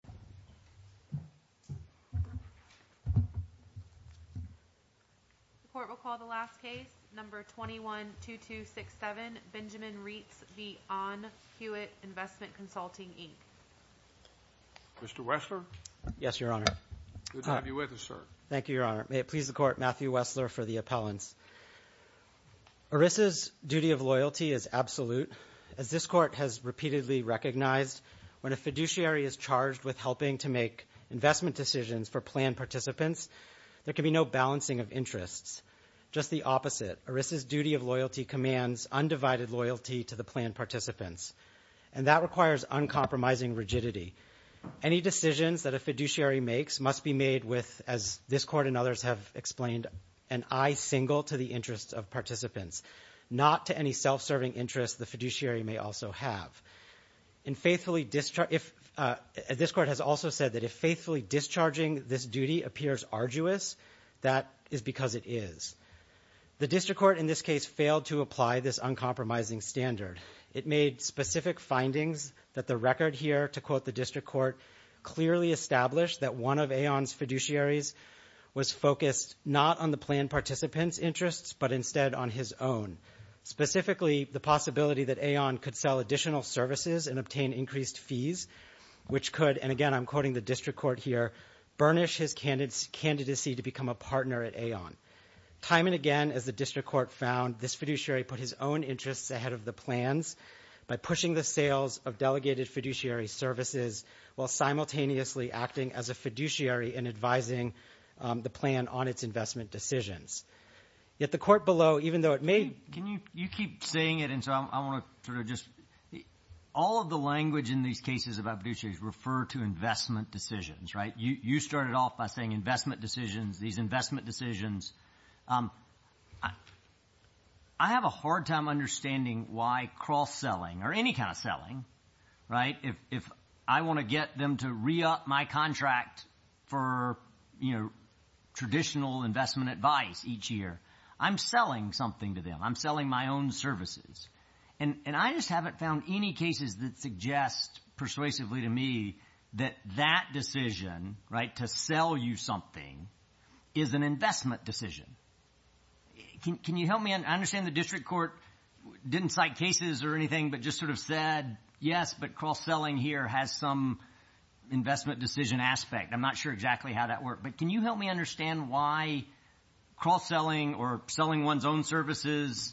Mr. Wessler? Yes, Your Honor. Good to have you with us, sir. Thank you, Your Honor. May it please the Court, Matthew Wessler, for the appellants. ERISA's duty of loyalty is absolute. As this Court has repeatedly recognized, when a fiduciary is charged with a fiduciary is helping to make investment decisions for planned participants, there can be no balancing of interests. Just the opposite. ERISA's duty of loyalty commands undivided loyalty to the planned participants, and that requires uncompromising rigidity. Any decisions that a fiduciary makes must be made with, as this Court and others have explained, an eye single to the interests of participants, not to any self-serving interests the fiduciary may also have. This Court has also said that if faithfully discharging this duty appears arduous, that is because it is. The District Court in this case failed to apply this uncompromising standard. It made specific findings that the record here to quote the District Court clearly established that one of Aon's fiduciaries was focused not on the planned participant's interests, but instead on his own. Specifically, the possibility that Aon could sell additional services and obtain increased fees, which could, and again I'm quoting the District Court here, burnish his candidacy to become a partner at Aon. Time and again, as the District Court found, this fiduciary put his own interests ahead of the plans by pushing the sales of delegated fiduciary services while simultaneously acting as a fiduciary and advising the plan on its investment decisions. Yet the Court below, even though it may – Can you keep saying it? And so I want to sort of just – all of the language in these cases about fiduciaries refer to investment decisions, right? You started off by saying investment decisions, these investment decisions. I have a hard time understanding why cross-selling or any kind of selling, right, if I want to get them to re-up my contract for traditional investment advice each year, I'm selling something to them. I'm selling my own services. And I just haven't found any cases that suggest persuasively to me that that decision, right, to sell you something is an investment decision. Can you help me? I understand the District Court didn't cite cases or anything but just sort of said, yes, but cross-selling here has some investment decision aspect. I'm not sure exactly how that worked. But can you help me understand why cross-selling or selling one's own services,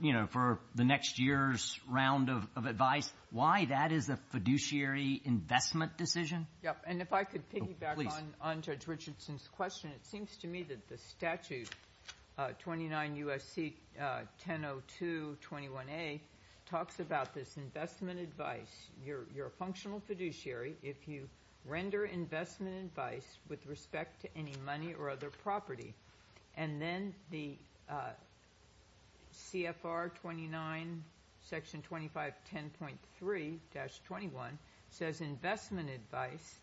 you know, for the next year's round of advice, why that is a fiduciary investment decision? And if I could piggyback on Judge Richardson's question, it seems to me that the statute 29 U.S.C. 1002 21A talks about this investment advice. You're a functional fiduciary if you render investment advice with respect to any money or other property. And then the CFR 29 Section 25 10.3-21 says investment advice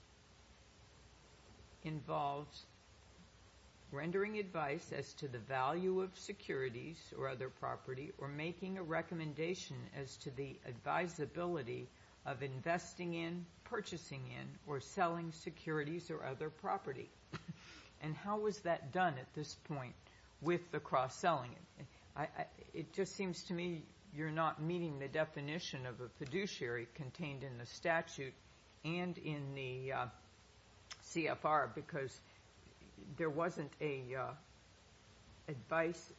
involves rendering advice as to the value of securities or other property or making a recommendation as to the advisability of investing in, purchasing in, or selling securities or other property. And how is that done at this point with the cross-selling? It just seems to me you're not meeting the definition of a fiduciary contained in the statute and in the CFR because there wasn't a advice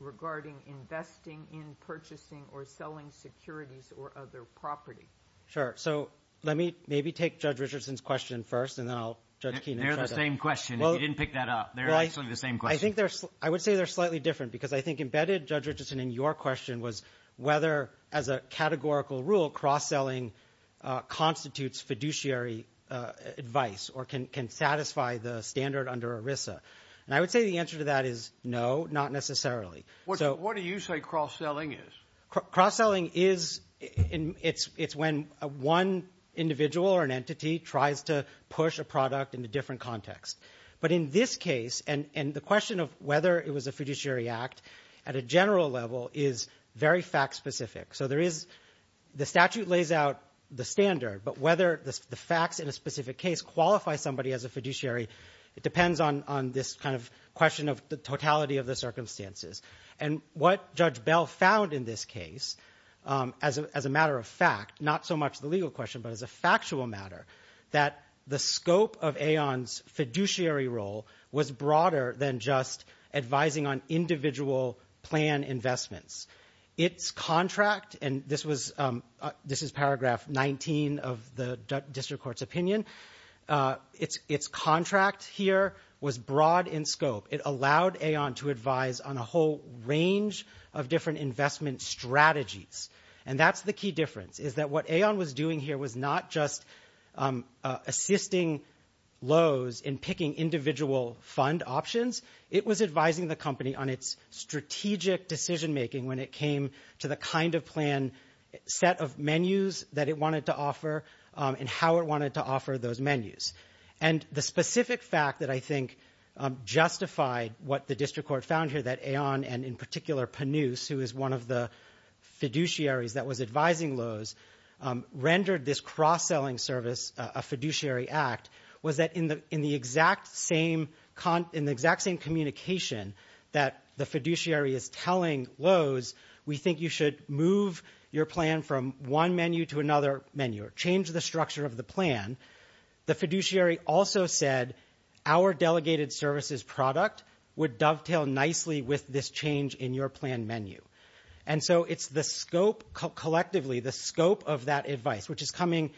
regarding investing in, purchasing or selling securities or other property. Sure. So let me maybe take Judge Richardson's question first and then I'll let Judge Keenan try to answer it. They're the same question. You didn't pick that up. They're actually the same question. I would say they're slightly different because I think embedded, Judge Richardson, in your question was whether as a categorical rule cross-selling constitutes fiduciary advice or can satisfy the standard under ERISA. And I would say the answer to that is no, not necessarily. What do you say cross-selling is? Cross-selling is when one individual or an entity tries to push a product in a different context. But in this case, and the question of whether it was a fiduciary act at a general level is very fact-specific. So the statute lays out the standard, but whether the facts in a specific case qualify somebody as a fiduciary, it depends on this kind of question of the totality of the circumstances. And what Judge Bell found in this case, as a matter of fact, not so much the legal question but as a factual matter, that the scope of AON's fiduciary role was broader than just advising on individual plan investments. Its contract, and this is paragraph 19 of the district court's opinion, its contract here was broad in scope. It allowed AON to advise on a whole range of different investment strategies. And that's the key difference, is that what AON was doing here was not just assisting Lowe's in picking individual fund options. It was advising the company on its strategic decision-making when it came to the kind of plan set of menus that it wanted to offer and how it wanted to offer those menus. And the specific fact that I think justified what the district court found here, that AON and in particular Panus, who is one of the fiduciaries that was advising Lowe's, rendered this cross-selling service a fiduciary act was that in the exact same communication that the fiduciary is telling Lowe's, we think you should move your plan from one menu to another menu or change the structure of the plan. The fiduciary also said our delegated services product would dovetail nicely with this change in your plan menu. And so it's the scope collectively, the scope of that advice, which is coming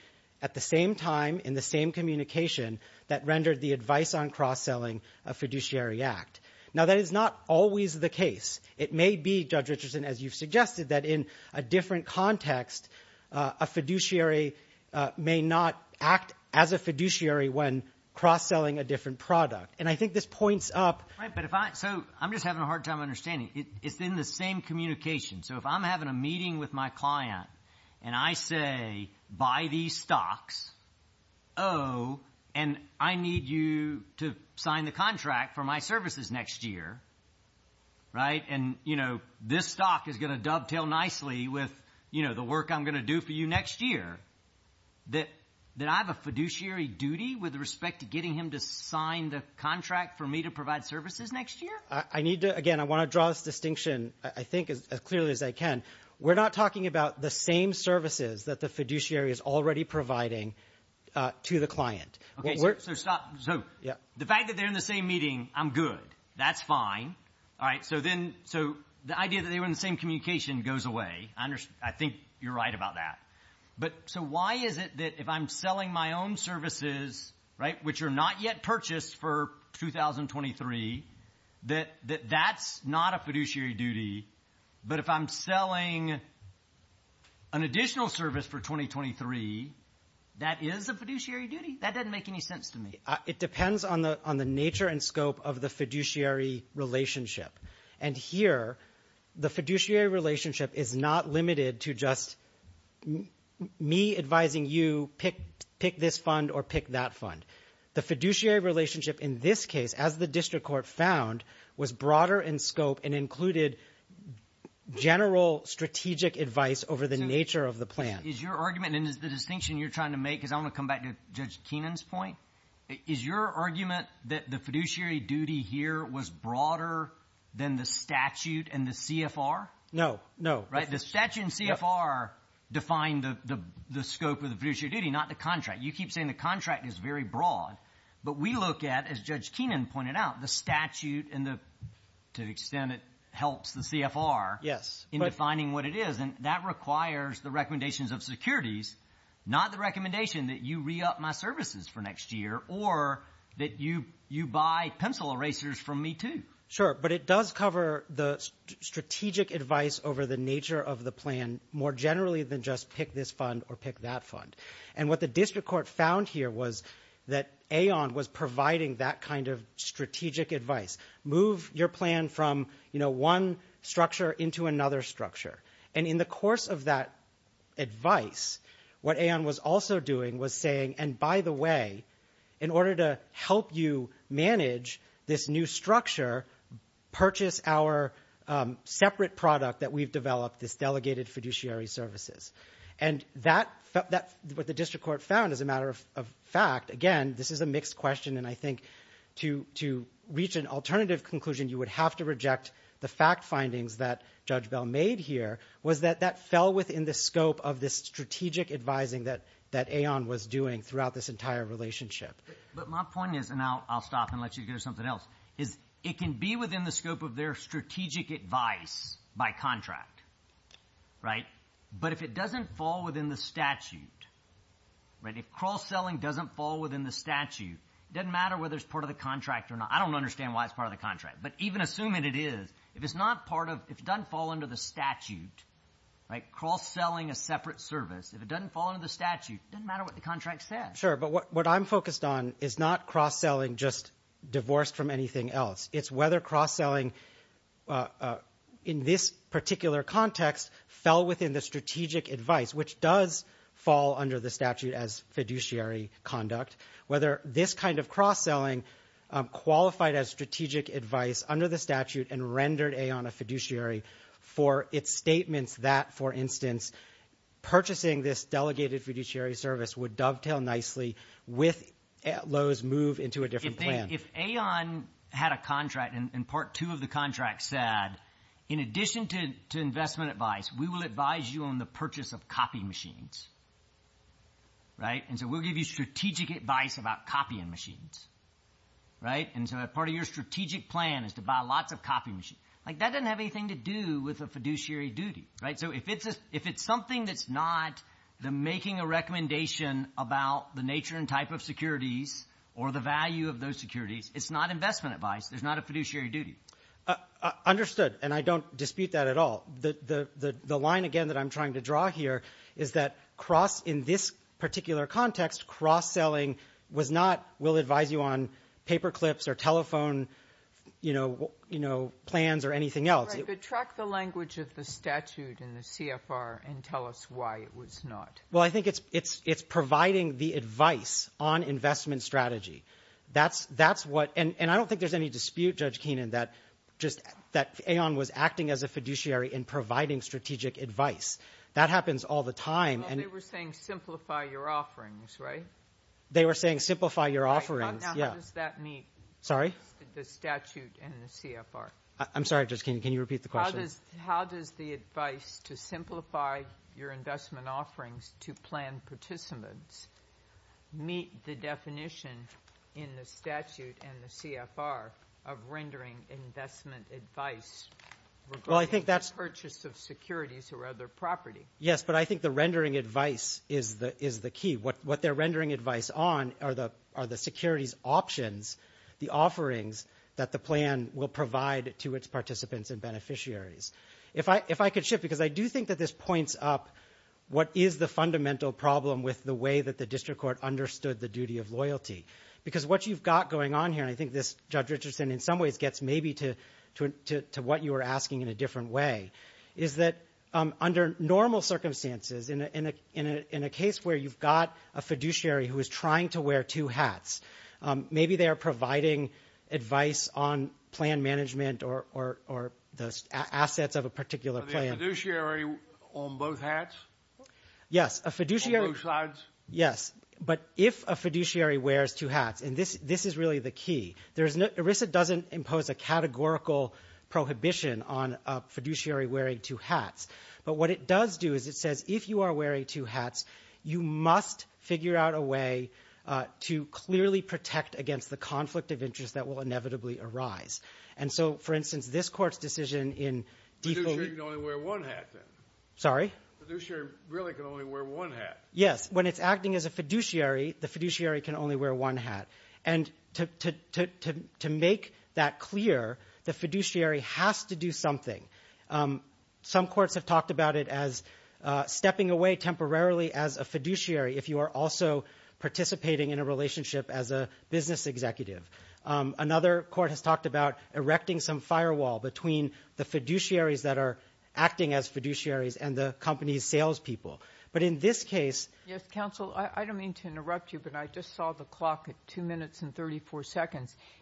at the same time in the same communication that rendered the advice on cross-selling a fiduciary act. Now, that is not always the case. It may be, Judge Richardson, as you've suggested, that in a different context, a fiduciary may not act as a fiduciary when cross-selling a different product. And I think this points up. So I'm just having a hard time understanding. It's in the same communication. So if I'm having a meeting with my client and I say, buy these stocks, oh, and I need you to sign the contract for my services next year, right? And, you know, this stock is going to dovetail nicely with, you know, the work I'm going to do for you next year, that I have a fiduciary duty with respect to getting him to sign the contract for me to provide services next year? I need to – again, I want to draw this distinction, I think, as clearly as I can. We're not talking about the same services that the fiduciary is already providing to the client. Okay, so stop. So the fact that they're in the same meeting, I'm good. That's fine. All right. So then – so the idea that they were in the same communication goes away. I think you're right about that. But so why is it that if I'm selling my own services, right, which are not yet purchased for 2023, that that's not a fiduciary duty, but if I'm selling an additional service for 2023, that is a fiduciary duty? That doesn't make any sense to me. It depends on the nature and scope of the fiduciary relationship. And here, the fiduciary relationship is not limited to just me advising you pick this fund or pick that fund. The fiduciary relationship in this case, as the district court found, was broader in scope and included general strategic advice over the nature of the plan. Is your argument – and the distinction you're trying to make, because I want to come back to Judge Keenan's point. Is your argument that the fiduciary duty here was broader than the statute and the CFR? No, no. Right? The statute and CFR define the scope of the fiduciary duty, not the contract. You keep saying the contract is very broad, but we look at, as Judge Keenan pointed out, the statute and the – to the extent it helps the CFR in defining what it is. And that requires the recommendations of securities, not the recommendation that you re-up my services for next year or that you buy pencil erasers from me too. Sure, but it does cover the strategic advice over the nature of the plan more generally than just pick this fund or pick that fund. And what the district court found here was that AON was providing that kind of strategic advice. Move your plan from, you know, one structure into another structure. And in the course of that advice, what AON was also doing was saying, and by the way, in order to help you manage this new structure, purchase our separate product that we've developed, this delegated fiduciary services. And that – what the district court found as a matter of fact, again, this is a mixed question, and I think to reach an alternative conclusion you would have to reject the fact findings that Judge Bell made here, was that that fell within the scope of this strategic advising that AON was doing throughout this entire relationship. But my point is – and I'll stop and let you go to something else – is it can be within the scope of their strategic advice by contract. Right? But if it doesn't fall within the statute, right, if cross-selling doesn't fall within the statute, it doesn't matter whether it's part of the contract or not. I don't understand why it's part of the contract, but even assuming it is, if it's not part of – if it doesn't fall under the statute, like cross-selling a separate service, if it doesn't fall under the statute, it doesn't matter what the contract says. Sure, but what I'm focused on is not cross-selling just divorced from anything else. It's whether cross-selling in this particular context fell within the strategic advice, which does fall under the statute as fiduciary conduct, whether this kind of cross-selling qualified as strategic advice under the statute and rendered AON a fiduciary for its statements that, for instance, purchasing this delegated fiduciary service would dovetail nicely with Lowe's move into a different plan. If AON had a contract and part two of the contract said, in addition to investment advice, we will advise you on the purchase of copy machines, right? And so we'll give you strategic advice about copying machines, right? And so part of your strategic plan is to buy lots of copy machines. Like that doesn't have anything to do with a fiduciary duty, right? So if it's something that's not the making a recommendation about the nature and type of securities or the value of those securities, it's not investment advice. There's not a fiduciary duty. Understood, and I don't dispute that at all. The line, again, that I'm trying to draw here is that cross in this particular context, cross-selling was not we'll advise you on paper clips or telephone, you know, plans or anything else. But track the language of the statute in the CFR and tell us why it was not. Well, I think it's providing the advice on investment strategy. That's what – and I don't think there's any dispute, Judge Keenan, that AON was acting as a fiduciary and providing strategic advice. That happens all the time. Well, they were saying simplify your offerings, right? They were saying simplify your offerings, yeah. Now, how does that meet the statute in the CFR? I'm sorry, Judge Keenan. Can you repeat the question? How does the advice to simplify your investment offerings to plan participants meet the definition in the statute and the CFR of rendering investment advice regarding the purchase of securities or other property? Yes, but I think the rendering advice is the key. What they're rendering advice on are the securities options, the offerings that the plan will provide to its participants and beneficiaries. If I could shift, because I do think that this points up what is the fundamental problem with the way that the district court understood the duty of loyalty. Because what you've got going on here, and I think this, Judge Richardson, in some ways gets maybe to what you were asking in a different way, is that under normal circumstances, in a case where you've got a fiduciary who is trying to wear two hats, maybe they are providing advice on plan management or the assets of a particular plan. Are they a fiduciary on both hats? Yes. On both sides? Yes. But if a fiduciary wears two hats, and this is really the key, ERISA doesn't impose a categorical prohibition on a fiduciary wearing two hats, but what it does do is it says if you are wearing two hats, you must figure out a way to clearly protect against the conflict of interest that will inevitably arise. And so, for instance, this Court's decision in defaulting. A fiduciary can only wear one hat, then. Sorry? A fiduciary really can only wear one hat. Yes. When it's acting as a fiduciary, the fiduciary can only wear one hat. And to make that clear, the fiduciary has to do something. Some courts have talked about it as stepping away temporarily as a fiduciary if you are also participating in a relationship as a business executive. Another court has talked about erecting some firewall between the fiduciaries that are acting as fiduciaries and the company's salespeople. But in this case –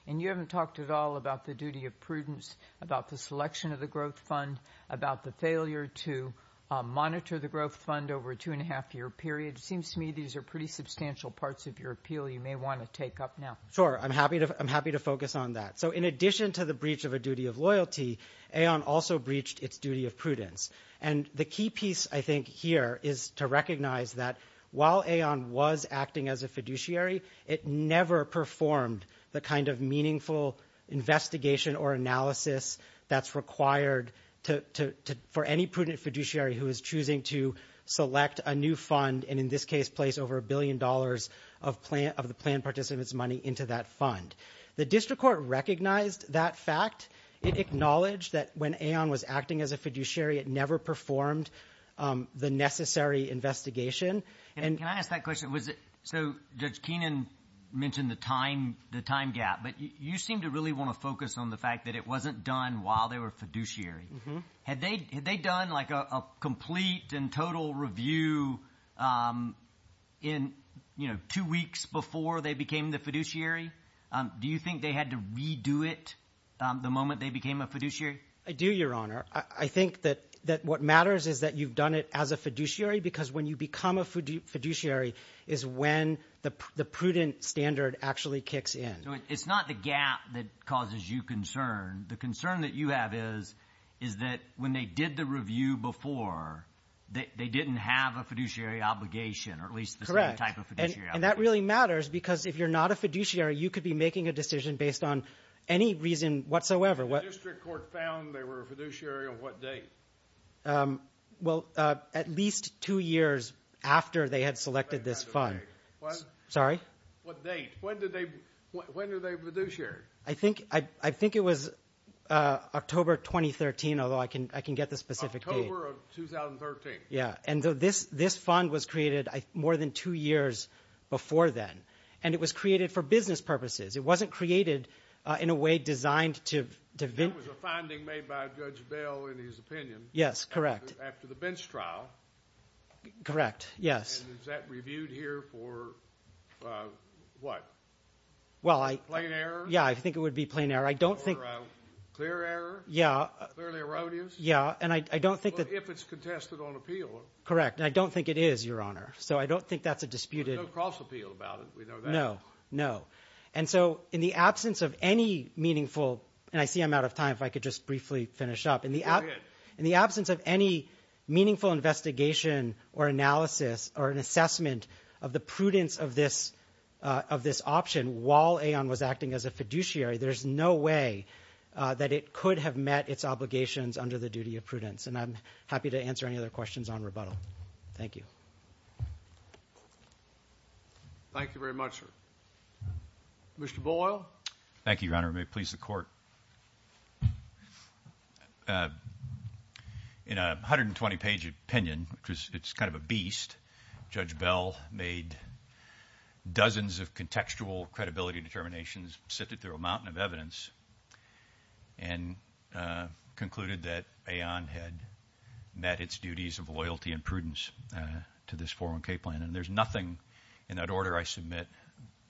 And you haven't talked at all about the duty of prudence, about the selection of the growth fund, about the failure to monitor the growth fund over a two-and-a-half-year period. It seems to me these are pretty substantial parts of your appeal you may want to take up now. Sure. I'm happy to focus on that. So in addition to the breach of a duty of loyalty, AON also breached its duty of prudence. And the key piece, I think, here is to recognize that while AON was acting as a fiduciary, it never performed the kind of meaningful investigation or analysis that's required for any prudent fiduciary who is choosing to select a new fund and in this case place over a billion dollars of the planned participant's money into that fund. The district court recognized that fact. It acknowledged that when AON was acting as a fiduciary, it never performed the necessary investigation. And can I ask that question? So Judge Keenan mentioned the time gap, but you seem to really want to focus on the fact that it wasn't done while they were fiduciary. Had they done like a complete and total review in two weeks before they became the fiduciary? Do you think they had to redo it the moment they became a fiduciary? I do, Your Honor. I think that what matters is that you've done it as a fiduciary because when you become a fiduciary is when the prudent standard actually kicks in. So it's not the gap that causes you concern. The concern that you have is that when they did the review before, they didn't have a fiduciary obligation or at least the same type of fiduciary obligation. And that really matters because if you're not a fiduciary, you could be making a decision based on any reason whatsoever. When the district court found they were a fiduciary, on what date? Well, at least two years after they had selected this fund. Sorry? What date? When did they fiduciary? I think it was October 2013, although I can get the specific date. October of 2013. Yeah, and this fund was created more than two years before then, and it was created for business purposes. It wasn't created in a way designed to vindicate. That was a finding made by Judge Bell in his opinion. Yes, correct. After the bench trial. Correct, yes. And is that reviewed here for what? Plain error? Yeah, I think it would be plain error. I don't think. Clear error? Yeah. Clearly erroneous? Yeah, and I don't think that. If it's contested on appeal. Correct, and I don't think it is, Your Honor. So I don't think that's a disputed. There's no cross appeal about it, we know that. No, no. And so in the absence of any meaningful, and I see I'm out of time if I could just briefly finish up. Go ahead. In the absence of any meaningful investigation or analysis or an assessment of the prudence of this option, while Aon was acting as a fiduciary, there's no way that it could have met its obligations under the duty of prudence. And I'm happy to answer any other questions on rebuttal. Thank you. Thank you very much, sir. Mr. Boyle. Thank you, Your Honor. May it please the Court. In a 120-page opinion, which is kind of a beast, Judge Bell made dozens of contextual credibility determinations, sifted through a mountain of evidence, and concluded that Aon had met its duties of loyalty and prudence. And there's nothing in that order I submit,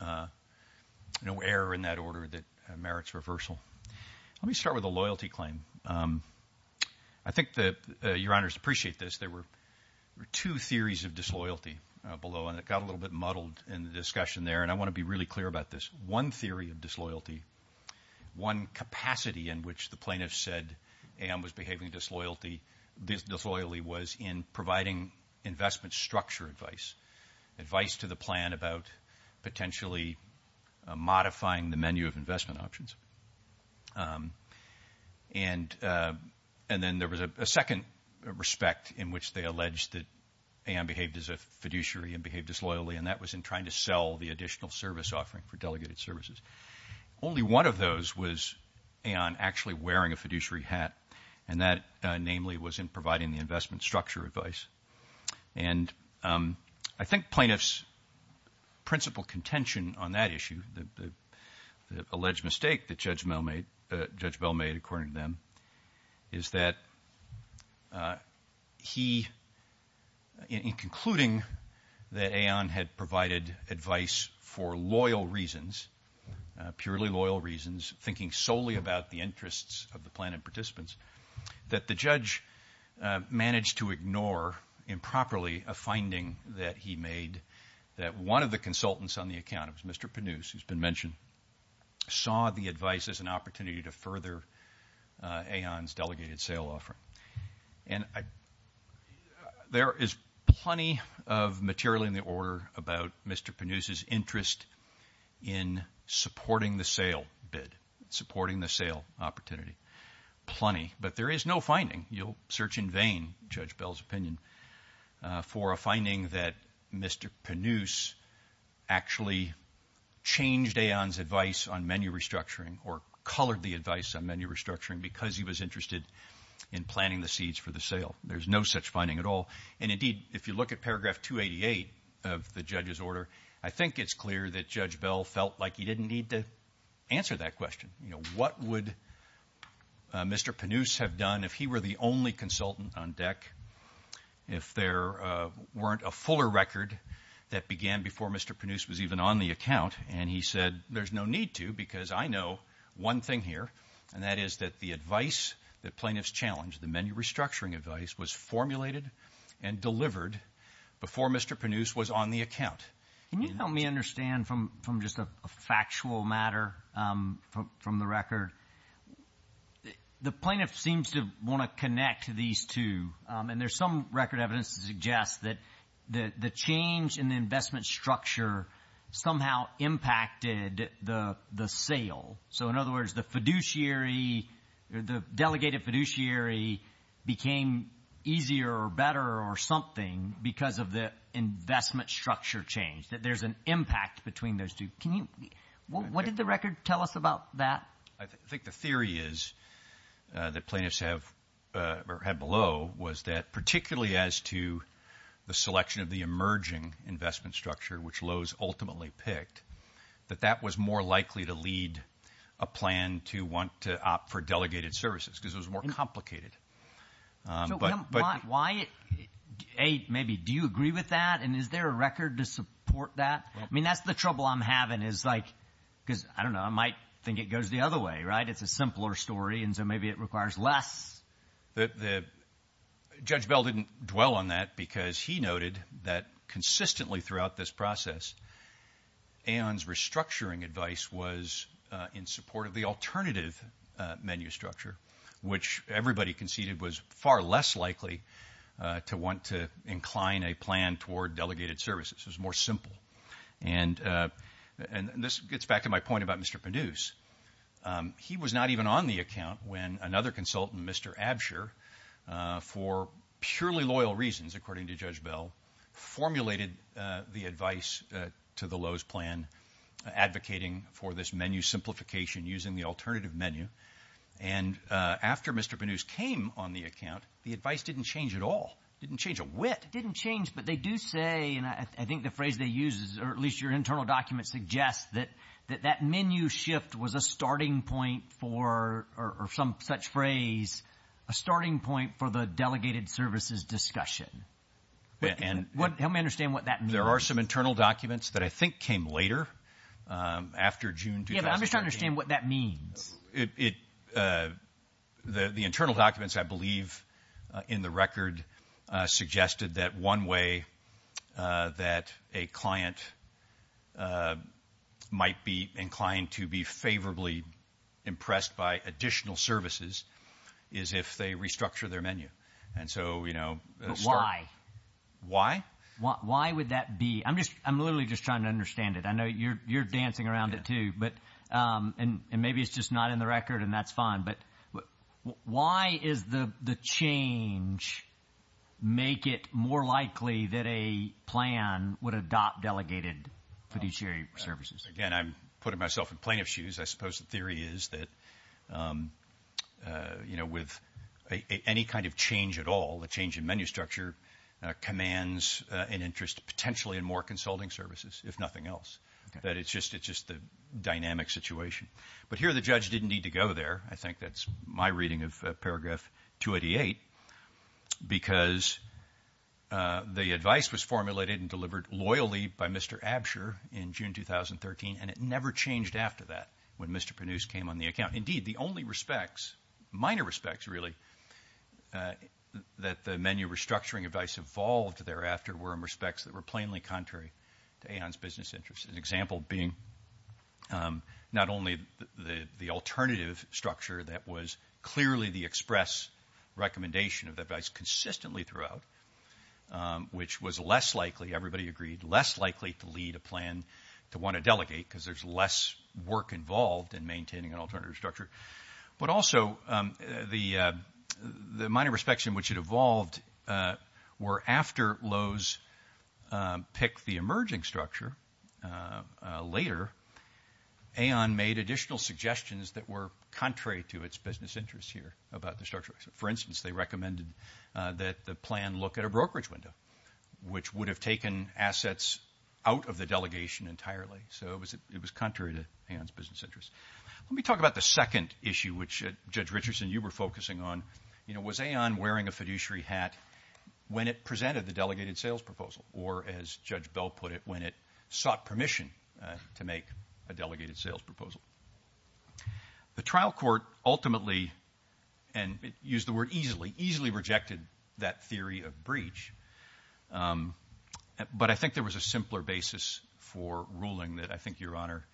no error in that order that merits reversal. Let me start with the loyalty claim. I think that Your Honors appreciate this. There were two theories of disloyalty below, and it got a little bit muddled in the discussion there, and I want to be really clear about this. One theory of disloyalty, one capacity in which the plaintiff said Aon was behaving disloyally was in providing investment structure advice, advice to the plan about potentially modifying the menu of investment options. And then there was a second respect in which they alleged that Aon behaved as a fiduciary and behaved disloyally, and that was in trying to sell the additional service offering for delegated services. Only one of those was Aon actually wearing a fiduciary hat, and that namely was in providing the investment structure advice. And I think plaintiff's principal contention on that issue, the alleged mistake that Judge Bell made according to them, is that he, in concluding that Aon had provided advice for loyal reasons, purely loyal reasons, thinking solely about the interests of the plaintiff participants, that the judge managed to ignore improperly a finding that he made that one of the consultants on the account, it was Mr. Penuse who's been mentioned, saw the advice as an opportunity to further Aon's delegated sale offering. And there is plenty of material in the order about Mr. Penuse's interest in supporting the sale bid, supporting the sale opportunity, plenty. But there is no finding. You'll search in vain, Judge Bell's opinion, for a finding that Mr. Penuse actually changed Aon's advice on menu restructuring or colored the advice on menu restructuring because he was interested in planting the seeds for the sale. There's no such finding at all. And indeed, if you look at paragraph 288 of the judge's order, I think it's clear that Judge Bell felt like he didn't need to answer that question. You know, what would Mr. Penuse have done if he were the only consultant on deck, if there weren't a fuller record that began before Mr. Penuse was even on the account, and he said there's no need to because I know one thing here, and that is that the advice that plaintiffs challenged, the menu restructuring advice, was formulated and delivered before Mr. Penuse was on the account. Can you help me understand from just a factual matter from the record? The plaintiff seems to want to connect these two, and there's some record evidence to suggest that the change in the investment structure somehow impacted the sale. So in other words, the delegated fiduciary became easier or better or something because of the investment structure change, that there's an impact between those two. What did the record tell us about that? I think the theory is that plaintiffs have below was that particularly as to the selection of the emerging investment structure, which Lowe's ultimately picked, that that was more likely to lead a plan to want to opt for delegated services because it was more complicated. Why? A, maybe do you agree with that, and is there a record to support that? I mean, that's the trouble I'm having is like because, I don't know, I might think it goes the other way, right? It's a simpler story, and so maybe it requires less. Judge Bell didn't dwell on that because he noted that consistently throughout this process, Aon's restructuring advice was in support of the alternative menu structure, which everybody conceded was far less likely to want to incline a plan toward delegated services. It was more simple. And this gets back to my point about Mr. Penouse. He was not even on the account when another consultant, Mr. Absher, for purely loyal reasons, according to Judge Bell, formulated the advice to the Lowe's plan advocating for this menu simplification using the alternative menu. And after Mr. Penouse came on the account, the advice didn't change at all. It didn't change a whit. It didn't change, but they do say, and I think the phrase they use, or at least your internal document suggests that that menu shift was a starting point for, or some such phrase, a starting point for the delegated services discussion. Help me understand what that means. There are some internal documents that I think came later, after June 2013. Yeah, but I'm just trying to understand what that means. The internal documents, I believe, in the record suggested that one way that a client might be inclined to be favorably impressed by additional services is if they restructure their menu. But why? Why? Why would that be? I'm literally just trying to understand it. I know you're dancing around it too. And maybe it's just not in the record, and that's fine. But why is the change make it more likely that a plan would adopt delegated fiduciary services? Again, I'm putting myself in plaintiff's shoes. I suppose the theory is that with any kind of change at all, the change in menu structure commands an interest potentially in more consulting services, if nothing else. That it's just a dynamic situation. But here the judge didn't need to go there. I think that's my reading of Paragraph 288, because the advice was formulated and delivered loyally by Mr. Absher in June 2013, and it never changed after that when Mr. Penouse came on the account. Indeed, the only respects, minor respects really, that the menu restructuring advice evolved thereafter were in respects that were plainly contrary to Aon's business interests. An example being not only the alternative structure that was clearly the express recommendation of the advice consistently throughout, which was less likely, everybody agreed, less likely to lead a plan to want to delegate because there's less work involved in maintaining an alternative structure, but also the minor respects in which it evolved were after Lowe's picked the emerging structure later, Aon made additional suggestions that were contrary to its business interests here about the structure. For instance, they recommended that the plan look at a brokerage window, which would have taken assets out of the delegation entirely. So it was contrary to Aon's business interests. Let me talk about the second issue, which, Judge Richardson, you were focusing on. You know, was Aon wearing a fiduciary hat when it presented the delegated sales proposal, or as Judge Bell put it, when it sought permission to make a delegated sales proposal? The trial court ultimately, and used the word easily, easily rejected that theory of breach, but I think there was a simpler basis for ruling that I think Your Honor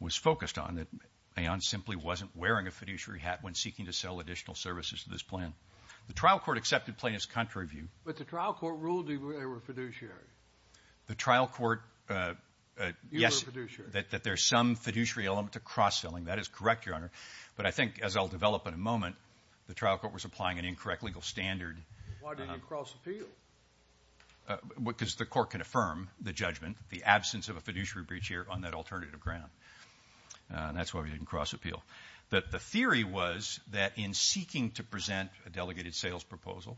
was focused on, that Aon simply wasn't wearing a fiduciary hat when seeking to sell additional services to this plan. The trial court accepted plaintiffs' contrary view. But the trial court ruled they were fiduciary. The trial court, yes, that there's some fiduciary element to cross-filling. That is correct, Your Honor, but I think, as I'll develop in a moment, the trial court was applying an incorrect legal standard. Why didn't you cross-appeal? Because the court can affirm the judgment, the absence of a fiduciary breach here on that alternative ground, and that's why we didn't cross-appeal. The theory was that in seeking to present a delegated sales proposal,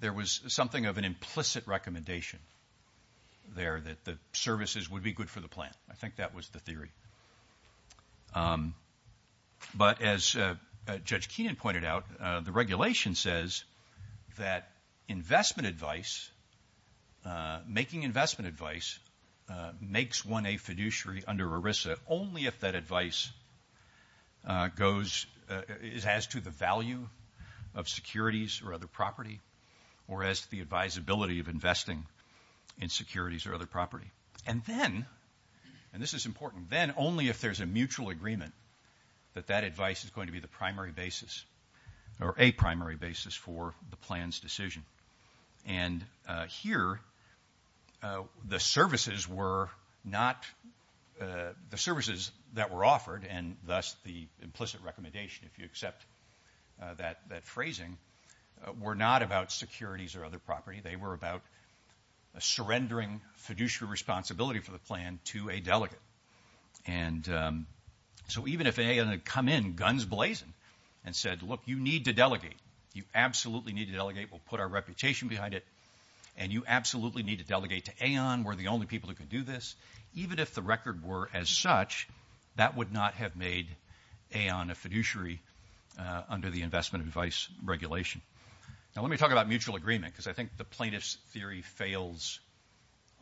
there was something of an implicit recommendation there that the services would be good for the plan. I think that was the theory. But as Judge Keenan pointed out, the regulation says that investment advice, making investment advice, makes one a fiduciary under ERISA only if that advice goes as to the value of securities or other property or as to the advisability of investing in securities or other property. And then, and this is important, then only if there's a mutual agreement that that advice is going to be the primary basis or a primary basis for the plan's decision. And here, the services that were offered and thus the implicit recommendation, if you accept that phrasing, were not about securities or other property. They were about a surrendering fiduciary responsibility for the plan to a delegate. And so even if AON had come in guns blazing and said, look, you need to delegate, you absolutely need to delegate, we'll put our reputation behind it, and you absolutely need to delegate to AON, we're the only people who can do this, even if the record were as such, that would not have made AON a fiduciary under the investment advice regulation. Now, let me talk about mutual agreement because I think the plaintiff's theory fails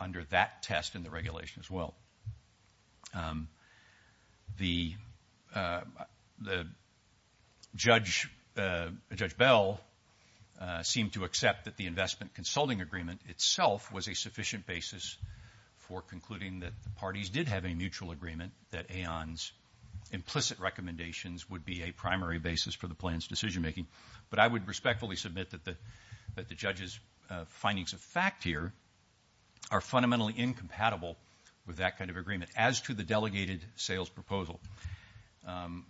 under that test in the regulation as well. The Judge Bell seemed to accept that the investment consulting agreement itself was a sufficient basis for concluding that the parties did have a mutual agreement, that AON's implicit recommendations would be a primary basis for the plan's decision making. But I would respectfully submit that the Judge's findings of fact here are fundamentally incompatible with that kind of agreement as to the delegated sales proposal.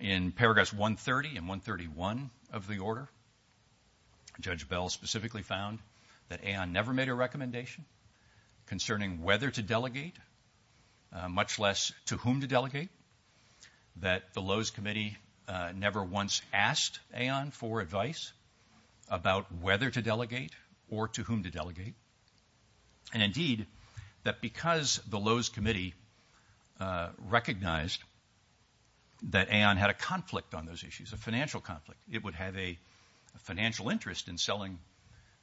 In paragraphs 130 and 131 of the order, Judge Bell specifically found that AON never made a recommendation concerning whether to delegate, much less to whom to delegate, that the Lowe's Committee never once asked AON for advice about whether to delegate or to whom to delegate, and indeed, that because the Lowe's Committee recognized that AON had a conflict on those issues, a financial conflict, it would have a financial interest in selling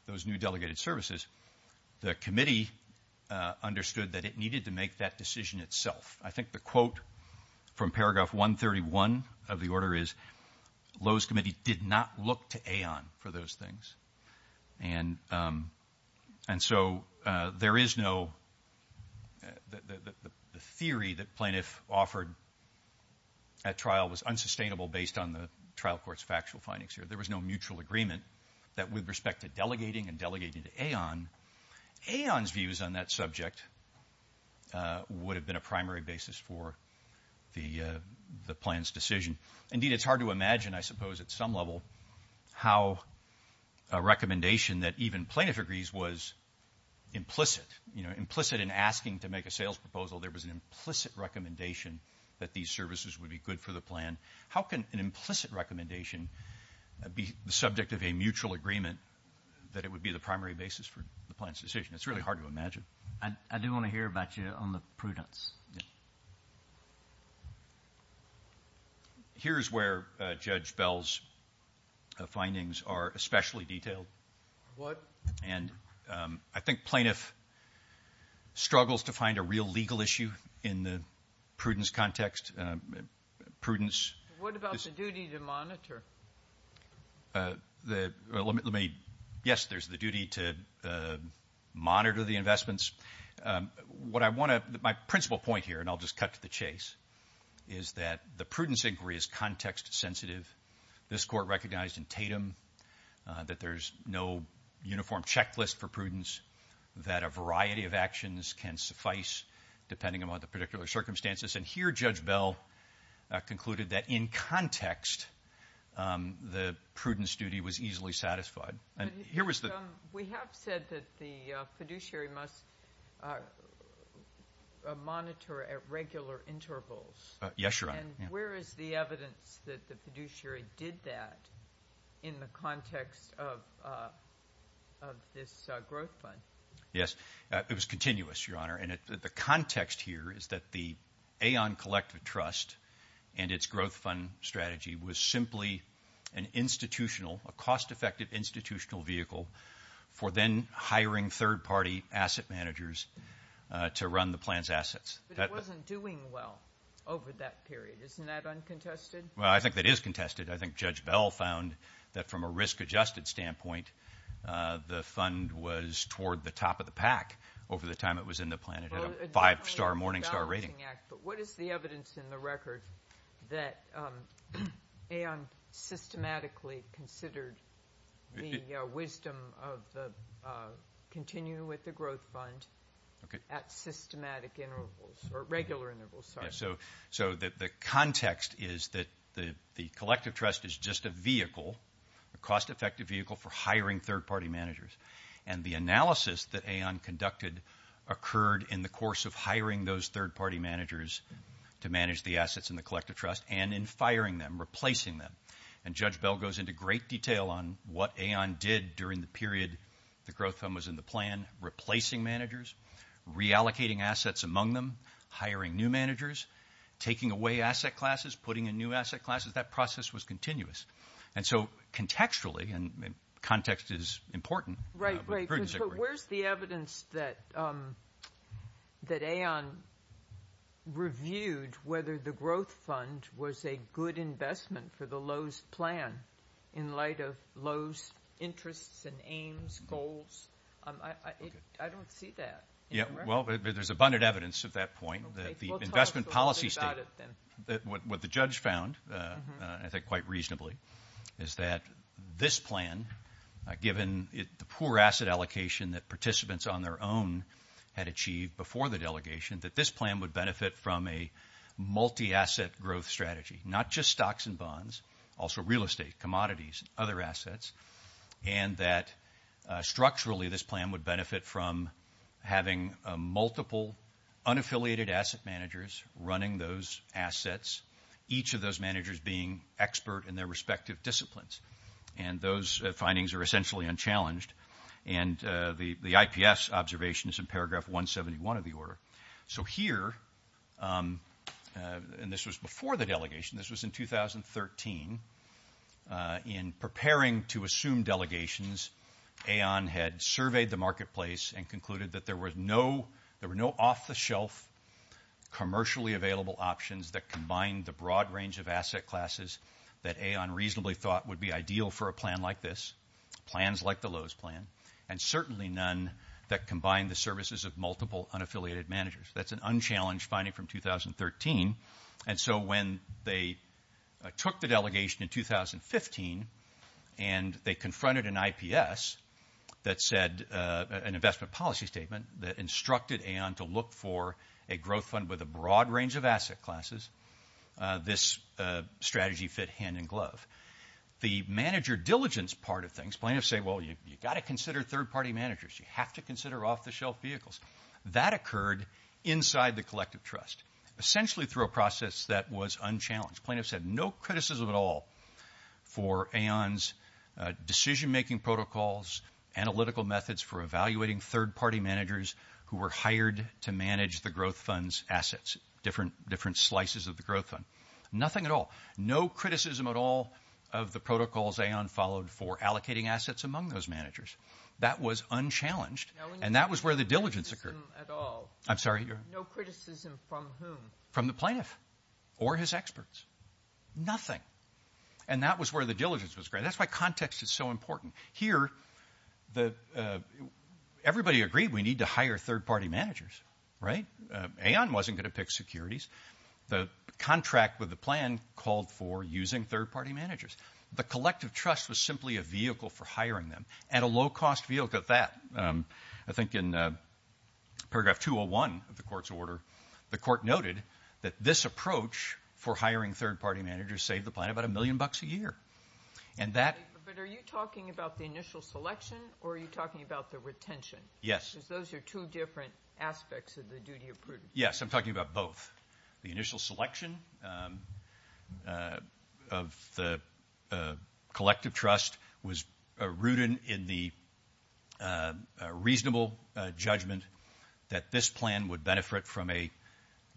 those new delegated services, the Committee understood that it needed to make that decision itself. I think the quote from paragraph 131 of the order is Lowe's Committee did not look to AON for those things. And so there is no theory that plaintiff offered at trial was unsustainable based on the trial court's factual findings here. There was no mutual agreement that with respect to delegating and delegating to AON, AON's views on that subject would have been a primary basis for the plan's decision. Indeed, it's hard to imagine, I suppose, at some level, how a recommendation that even plaintiff agrees was implicit, you know, implicit in asking to make a sales proposal, there was an implicit recommendation that these services would be good for the plan. How can an implicit recommendation be the subject of a mutual agreement that it would be the primary basis for the plan's decision? It's really hard to imagine. I do want to hear about you on the prudence. Here's where Judge Bell's findings are especially detailed. What? And I think plaintiff struggles to find a real legal issue in the prudence context. Prudence. What about the duty to monitor? Yes, there's the duty to monitor the investments. My principal point here, and I'll just cut to the chase, is that the prudence inquiry is context sensitive. This Court recognized in Tatum that there's no uniform checklist for prudence, that a variety of actions can suffice depending upon the particular circumstances. And here Judge Bell concluded that in context the prudence duty was easily satisfied. We have said that the fiduciary must monitor at regular intervals. Yes, Your Honor. And where is the evidence that the fiduciary did that in the context of this growth fund? Yes, it was continuous, Your Honor, and the context here is that the Aon Collective Trust and its growth fund strategy was simply an institutional, a cost-effective institutional vehicle for then hiring third-party asset managers to run the plan's assets. But it wasn't doing well over that period. Isn't that uncontested? Well, I think that is contested. I think Judge Bell found that from a risk-adjusted standpoint, the fund was toward the top of the pack over the time it was in the plan. It had a five-star, morning-star rating. But what is the evidence in the record that Aon systematically considered the wisdom of continuing with the growth fund at systematic intervals or regular intervals? So the context is that the Collective Trust is just a vehicle, a cost-effective vehicle for hiring third-party managers. And the analysis that Aon conducted occurred in the course of hiring those third-party managers to manage the assets in the Collective Trust and in firing them, replacing them. And Judge Bell goes into great detail on what Aon did during the period the growth fund was in the plan, replacing managers, reallocating assets among them, hiring new managers, taking away asset classes, putting in new asset classes. That process was continuous. And so contextually, and context is important. But where is the evidence that Aon reviewed whether the growth fund was a good investment for the Lowe's plan I don't see that. Well, there's abundant evidence at that point that the investment policy statement, what the judge found, I think quite reasonably, is that this plan, given the poor asset allocation that participants on their own had achieved before the delegation, that this plan would benefit from a multi-asset growth strategy, not just stocks and bonds, also real estate, commodities, other assets, and that structurally this plan would benefit from having multiple unaffiliated asset managers running those assets, each of those managers being expert in their respective disciplines. And those findings are essentially unchallenged. And the IPS observation is in paragraph 171 of the order. So here, and this was before the delegation, this was in 2013, in preparing to assume delegations, Aon had surveyed the marketplace and concluded that there were no off-the-shelf commercially available options that combined the broad range of asset classes that Aon reasonably thought would be ideal for a plan like this, plans like the Lowe's plan, and certainly none that combined the services of multiple unaffiliated managers. That's an unchallenged finding from 2013. And so when they took the delegation in 2015 and they confronted an IPS that said an investment policy statement that instructed Aon to look for a growth fund with a broad range of asset classes, this strategy fit hand in glove. The manager diligence part of things, plaintiffs say, well, you've got to consider third-party managers. You have to consider off-the-shelf vehicles. That occurred inside the collective trust, essentially through a process that was unchallenged. Plaintiffs had no criticism at all for Aon's decision-making protocols, analytical methods for evaluating third-party managers who were hired to manage the growth fund's assets, different slices of the growth fund, nothing at all. No criticism at all of the protocols Aon followed for allocating assets among those managers. That was unchallenged, and that was where the diligence occurred. No criticism at all. I'm sorry? No criticism from whom? From the plaintiff or his experts. Nothing. And that was where the diligence was great. That's why context is so important. Here, everybody agreed we need to hire third-party managers, right? Aon wasn't going to pick securities. The contract with the plan called for using third-party managers. The collective trust was simply a vehicle for hiring them, and a low-cost vehicle at that. I think in paragraph 201 of the court's order, the court noted that this approach for hiring third-party managers saved the plan about a million bucks a year. But are you talking about the initial selection, or are you talking about the retention? Yes. Because those are two different aspects of the duty of prudence. Yes, I'm talking about both. The initial selection of the collective trust was rooted in the reasonable judgment that this plan would benefit from a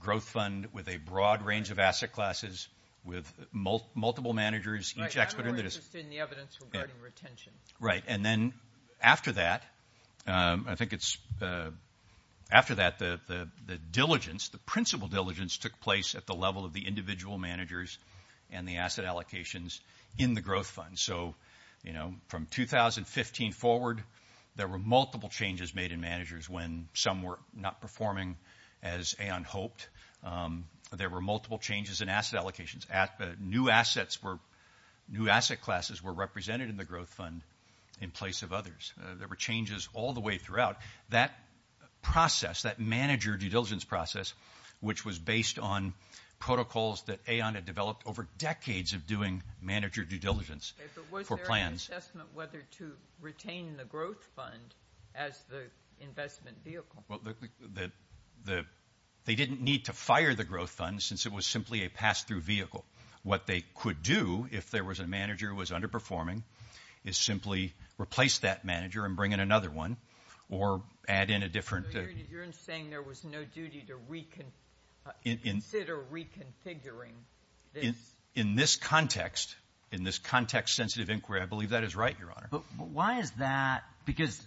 growth fund with a broad range of asset classes with multiple managers. Right, I'm more interested in the evidence regarding retention. Right, and then after that, I think it's after that the diligence, the principal diligence, took place at the level of the individual managers and the asset allocations in the growth fund. So, you know, from 2015 forward, there were multiple changes made in managers when some were not performing as Aon hoped. There were multiple changes in asset allocations. New asset classes were represented in the growth fund in place of others. There were changes all the way throughout. That process, that manager due diligence process, which was based on protocols that Aon had developed over decades of doing manager due diligence for plans. Okay, but was there an assessment whether to retain the growth fund as the investment vehicle? They didn't need to fire the growth fund since it was simply a pass-through vehicle. What they could do if there was a manager who was underperforming is simply replace that manager and bring in another one or add in a different. You're saying there was no duty to reconsider reconfiguring this. In this context, in this context-sensitive inquiry, I believe that is right, Your Honor. But why is that? Because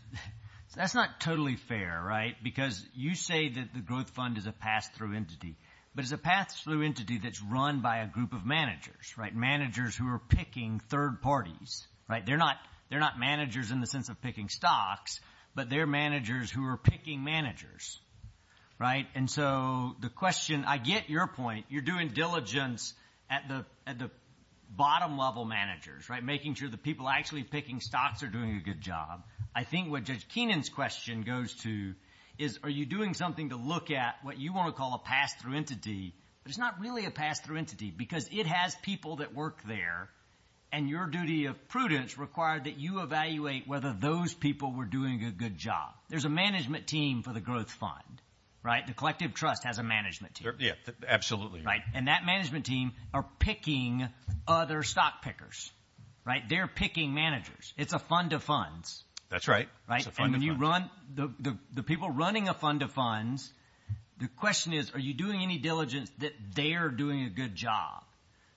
that's not totally fair, right? Because you say that the growth fund is a pass-through entity, but it's a pass-through entity that's run by a group of managers, right, managers who are picking third parties, right? They're not managers in the sense of picking stocks, but they're managers who are picking managers, right? And so the question, I get your point. You're doing diligence at the bottom level managers, right, making sure the people actually picking stocks are doing a good job. I think what Judge Keenan's question goes to is, are you doing something to look at what you want to call a pass-through entity, but it's not really a pass-through entity because it has people that work there, and your duty of prudence required that you evaluate whether those people were doing a good job. There's a management team for the growth fund, right? The collective trust has a management team. Yeah, absolutely. Right, and that management team are picking other stock pickers, right? They're picking managers. It's a fund of funds. That's right. It's a fund of funds. And when you run the people running a fund of funds, the question is, are you doing any diligence that they're doing a good job?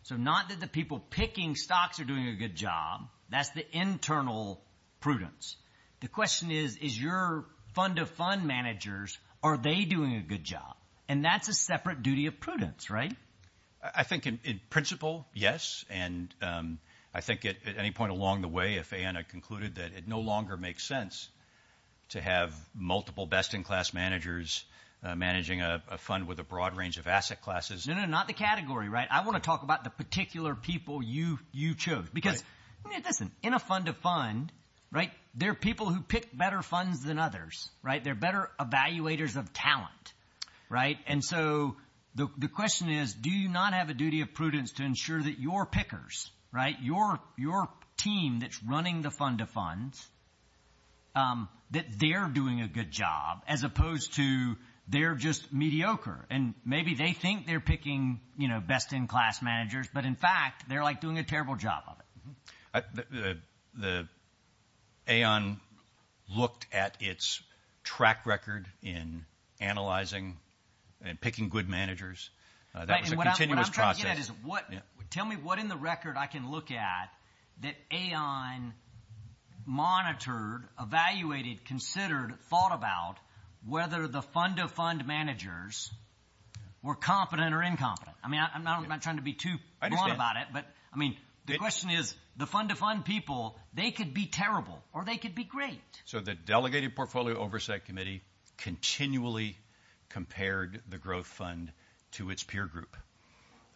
So not that the people picking stocks are doing a good job. That's the internal prudence. The question is, is your fund of fund managers, are they doing a good job? And that's a separate duty of prudence, right? I think in principle, yes, and I think at any point along the way, if Anna concluded that it no longer makes sense to have multiple best-in-class managers managing a fund with a broad range of asset classes. No, no, not the category, right? I want to talk about the particular people you chose because, listen, in a fund of fund, right, there are people who pick better funds than others, right? They're better evaluators of talent, right? And so the question is, do you not have a duty of prudence to ensure that your pickers, right, your team that's running the fund of funds, that they're doing a good job as opposed to they're just mediocre and maybe they think they're picking, you know, best-in-class managers, but in fact they're, like, doing a terrible job of it. The AON looked at its track record in analyzing and picking good managers. That was a continuous process. Tell me what in the record I can look at that AON monitored, evaluated, considered, thought about whether the fund of fund managers were competent or incompetent. I mean, I'm not trying to be too blunt about it. I understand. But, I mean, the question is, the fund of fund people, they could be terrible or they could be great. So the Delegated Portfolio Oversight Committee continually compared the growth fund to its peer group.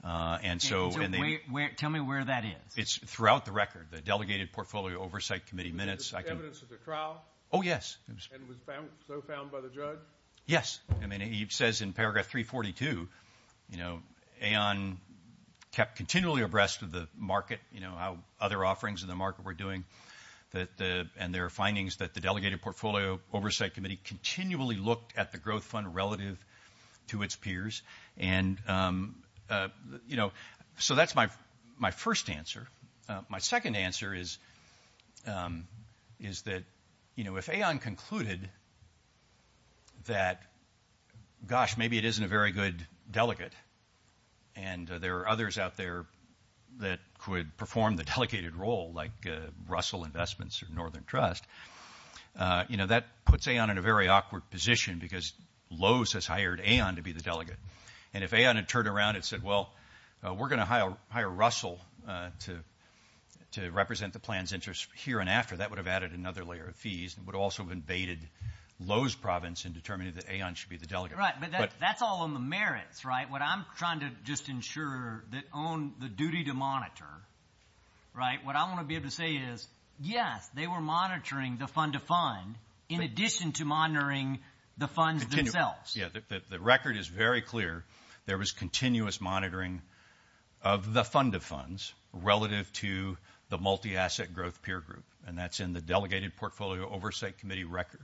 So tell me where that is. It's throughout the record. The Delegated Portfolio Oversight Committee minutes. Evidence of the trial? Oh, yes. And was so found by the judge? Yes. I mean, he says in paragraph 342, you know, AON kept continually abreast of the market, you know, how other offerings in the market were doing, and there are findings that the Delegated Portfolio Oversight Committee continually looked at the growth fund relative to its peers. And, you know, so that's my first answer. My second answer is that, you know, if AON concluded that, gosh, maybe it isn't a very good delegate and there are others out there that could perform the delegated role like Russell Investments or Northern Trust, you know, that puts AON in a very awkward position because Lowe's has hired AON to be the delegate. And if AON had turned around and said, well, we're going to hire Russell to represent the plan's interest here and after, that would have added another layer of fees and would also have invaded Lowe's province in determining that AON should be the delegate. Right, but that's all on the merits, right? What I'm trying to just ensure that on the duty to monitor, right, what I want to be able to say is, yes, they were monitoring the fund-to-fund in addition to monitoring the funds themselves. Yeah, the record is very clear. There was continuous monitoring of the fund-to-funds relative to the multi-asset growth peer group, and that's in the Delegated Portfolio Oversight Committee record,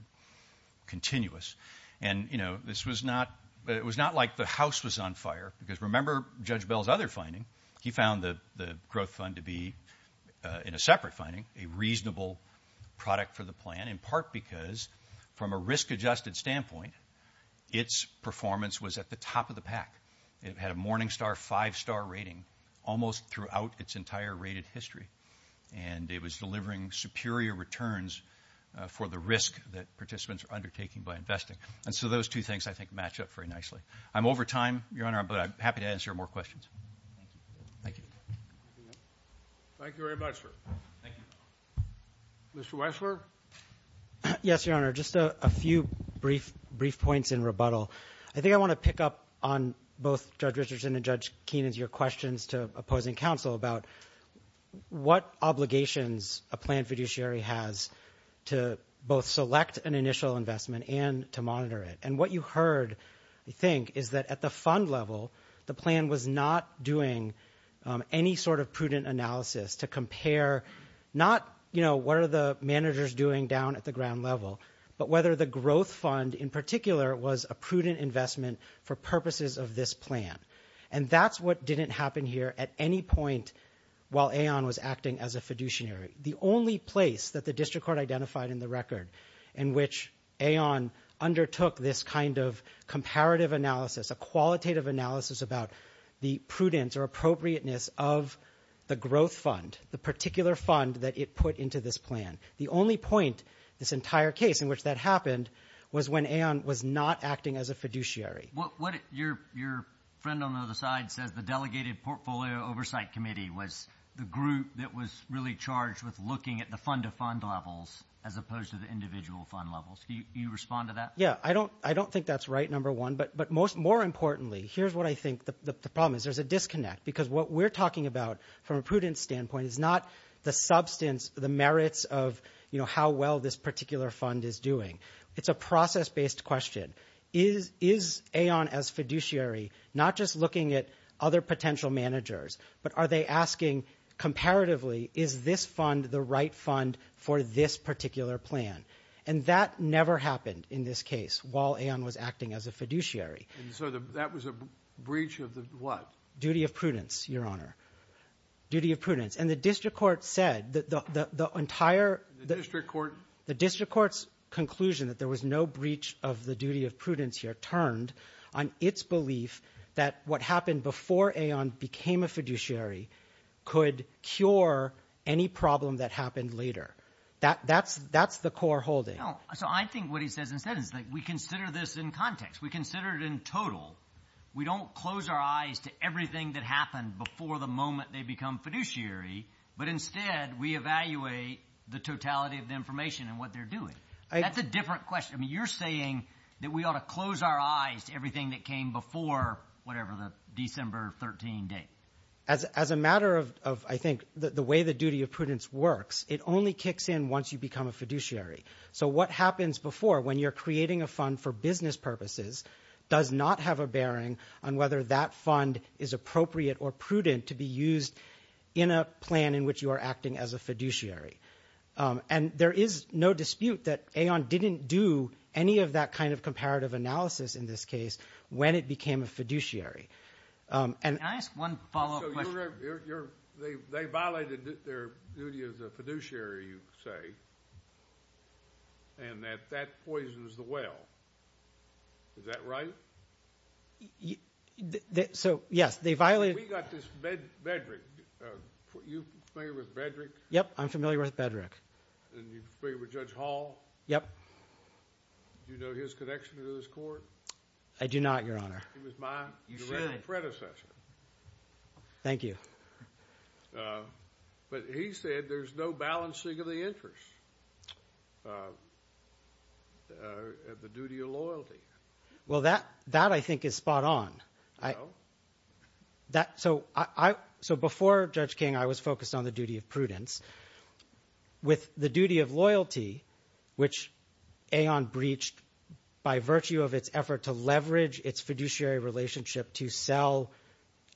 continuous. And, you know, this was not like the house was on fire because remember Judge Bell's other finding. He found the growth fund to be, in a separate finding, a reasonable product for the plan, in part because from a risk-adjusted standpoint, its performance was at the top of the pack. It had a Morningstar five-star rating almost throughout its entire rated history, and it was delivering superior returns for the risk that participants are undertaking by investing. And so those two things, I think, match up very nicely. I'm over time, Your Honor, but I'm happy to answer more questions. Thank you. Thank you very much, sir. Thank you. Mr. Weissler? Yes, Your Honor, just a few brief points in rebuttal. I think I want to pick up on both Judge Richardson and Judge Keenan's questions to opposing counsel about what obligations a plan fiduciary has to both select an initial investment and to monitor it. And what you heard, I think, is that at the fund level, the plan was not doing any sort of prudent analysis to compare not, you know, what are the managers doing down at the ground level, but whether the growth fund in particular was a prudent investment for purposes of this plan. And that's what didn't happen here at any point while Aon was acting as a fiduciary. The only place that the district court identified in the record in which Aon undertook this kind of comparative analysis, a qualitative analysis about the prudence or appropriateness of the growth fund, the particular fund that it put into this plan. The only point this entire case in which that happened was when Aon was not acting as a fiduciary. Your friend on the other side says the Delegated Portfolio Oversight Committee was the group that was really charged with looking at the fund-to-fund levels as opposed to the individual fund levels. Do you respond to that? Yeah. I don't think that's right, number one. But more importantly, here's what I think the problem is. There's a disconnect because what we're talking about from a prudent standpoint is not the substance, the merits of, you know, how well this particular fund is doing. It's a process-based question. Is Aon as fiduciary not just looking at other potential managers, but are they asking comparatively, is this fund the right fund for this particular plan? And that never happened in this case while Aon was acting as a fiduciary. And so that was a breach of the what? Duty of prudence, Your Honor. Duty of prudence. And the district court said that the entire — The district court? The district court's conclusion that there was no breach of the duty of prudence here turned on its belief that what happened before Aon became a fiduciary could cure any problem that happened later. That's the core holding. So I think what he says instead is that we consider this in context. We consider it in total. We don't close our eyes to everything that happened before the moment they become fiduciary, but instead we evaluate the totality of the information and what they're doing. That's a different question. I mean, you're saying that we ought to close our eyes to everything that came before whatever the December 13 date. As a matter of, I think, the way the duty of prudence works, it only kicks in once you become a fiduciary. So what happens before when you're creating a fund for business purposes does not have a bearing on whether that fund is appropriate or prudent to be used in a plan in which you are acting as a fiduciary. And there is no dispute that Aon didn't do any of that kind of comparative analysis in this case when it became a fiduciary. Can I ask one follow-up question? So they violated their duty as a fiduciary, you say, and that that poisons the well. Is that right? So, yes, they violated— We got this Bedrick. Are you familiar with Bedrick? Yep, I'm familiar with Bedrick. And you're familiar with Judge Hall? Yep. Do you know his connection to this court? I do not, Your Honor. He was my direct predecessor. Thank you. But he said there's no balancing of the interests of the duty of loyalty. Well, that I think is spot on. No? So before Judge King, I was focused on the duty of prudence. With the duty of loyalty, which Aon breached by virtue of its effort to leverage its fiduciary relationship to sell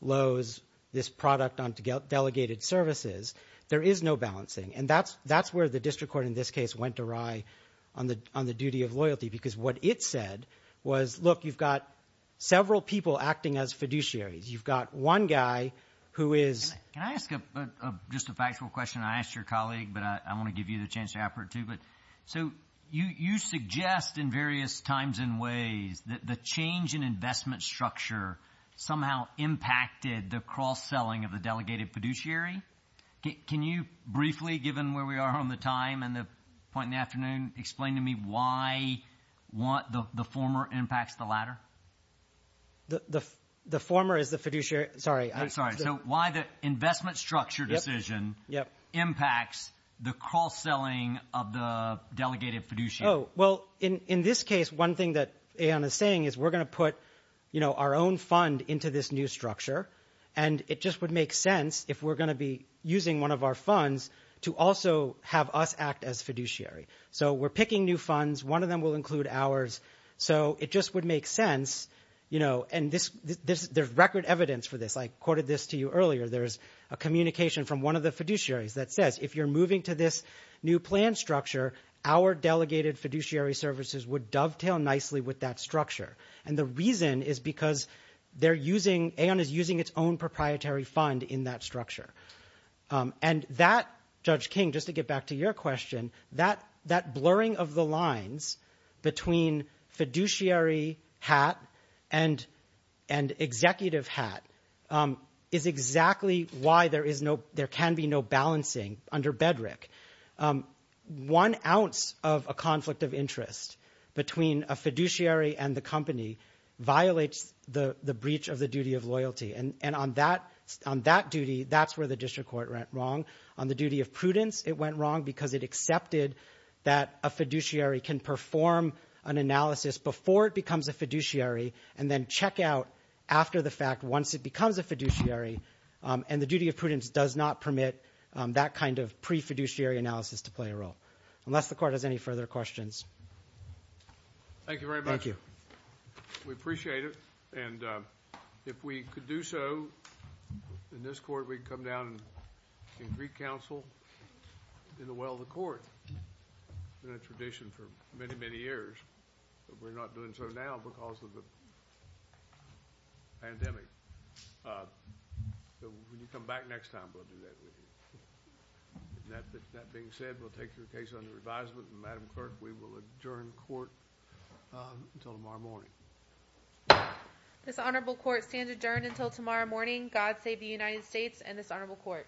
Lowe's, this product on delegated services, there is no balancing. And that's where the district court in this case went awry on the duty of loyalty because what it said was, look, you've got several people acting as fiduciaries. You've got one guy who is— I'm going to ask your colleague, but I want to give you the chance to ask her too. So you suggest in various times and ways that the change in investment structure somehow impacted the cross-selling of the delegated fiduciary. Can you briefly, given where we are on the time and the point in the afternoon, explain to me why the former impacts the latter? The former is the fiduciary—sorry. I'm sorry. So why the investment structure decision impacts the cross-selling of the delegated fiduciary. Well, in this case, one thing that Aon is saying is we're going to put our own fund into this new structure, and it just would make sense if we're going to be using one of our funds to also have us act as fiduciary. So we're picking new funds. One of them will include ours. So it just would make sense. And there's record evidence for this. I quoted this to you earlier. There's a communication from one of the fiduciaries that says if you're moving to this new plan structure, our delegated fiduciary services would dovetail nicely with that structure. And the reason is because they're using—Aon is using its own proprietary fund in that structure. And that, Judge King, just to get back to your question, that blurring of the lines between fiduciary hat and executive hat is exactly why there is no—there can be no balancing under Bedrick. One ounce of a conflict of interest between a fiduciary and the company violates the breach of the duty of loyalty. And on that duty, that's where the district court went wrong. On the duty of prudence, it went wrong because it accepted that a fiduciary can perform an analysis before it becomes a fiduciary and then check out after the fact once it becomes a fiduciary. And the duty of prudence does not permit that kind of pre-fiduciary analysis to play a role. Unless the Court has any further questions. Thank you very much. Thank you. We appreciate it. And if we could do so in this Court, we'd come down in Greek Council in the well of the Court. It's been a tradition for many, many years. But we're not doing so now because of the pandemic. So when you come back next time, we'll do that with you. That being said, we'll take your case under advisement. And, Madam Clerk, we will adjourn the Court until tomorrow morning. This Honorable Court stands adjourned until tomorrow morning. God save the United States and this Honorable Court.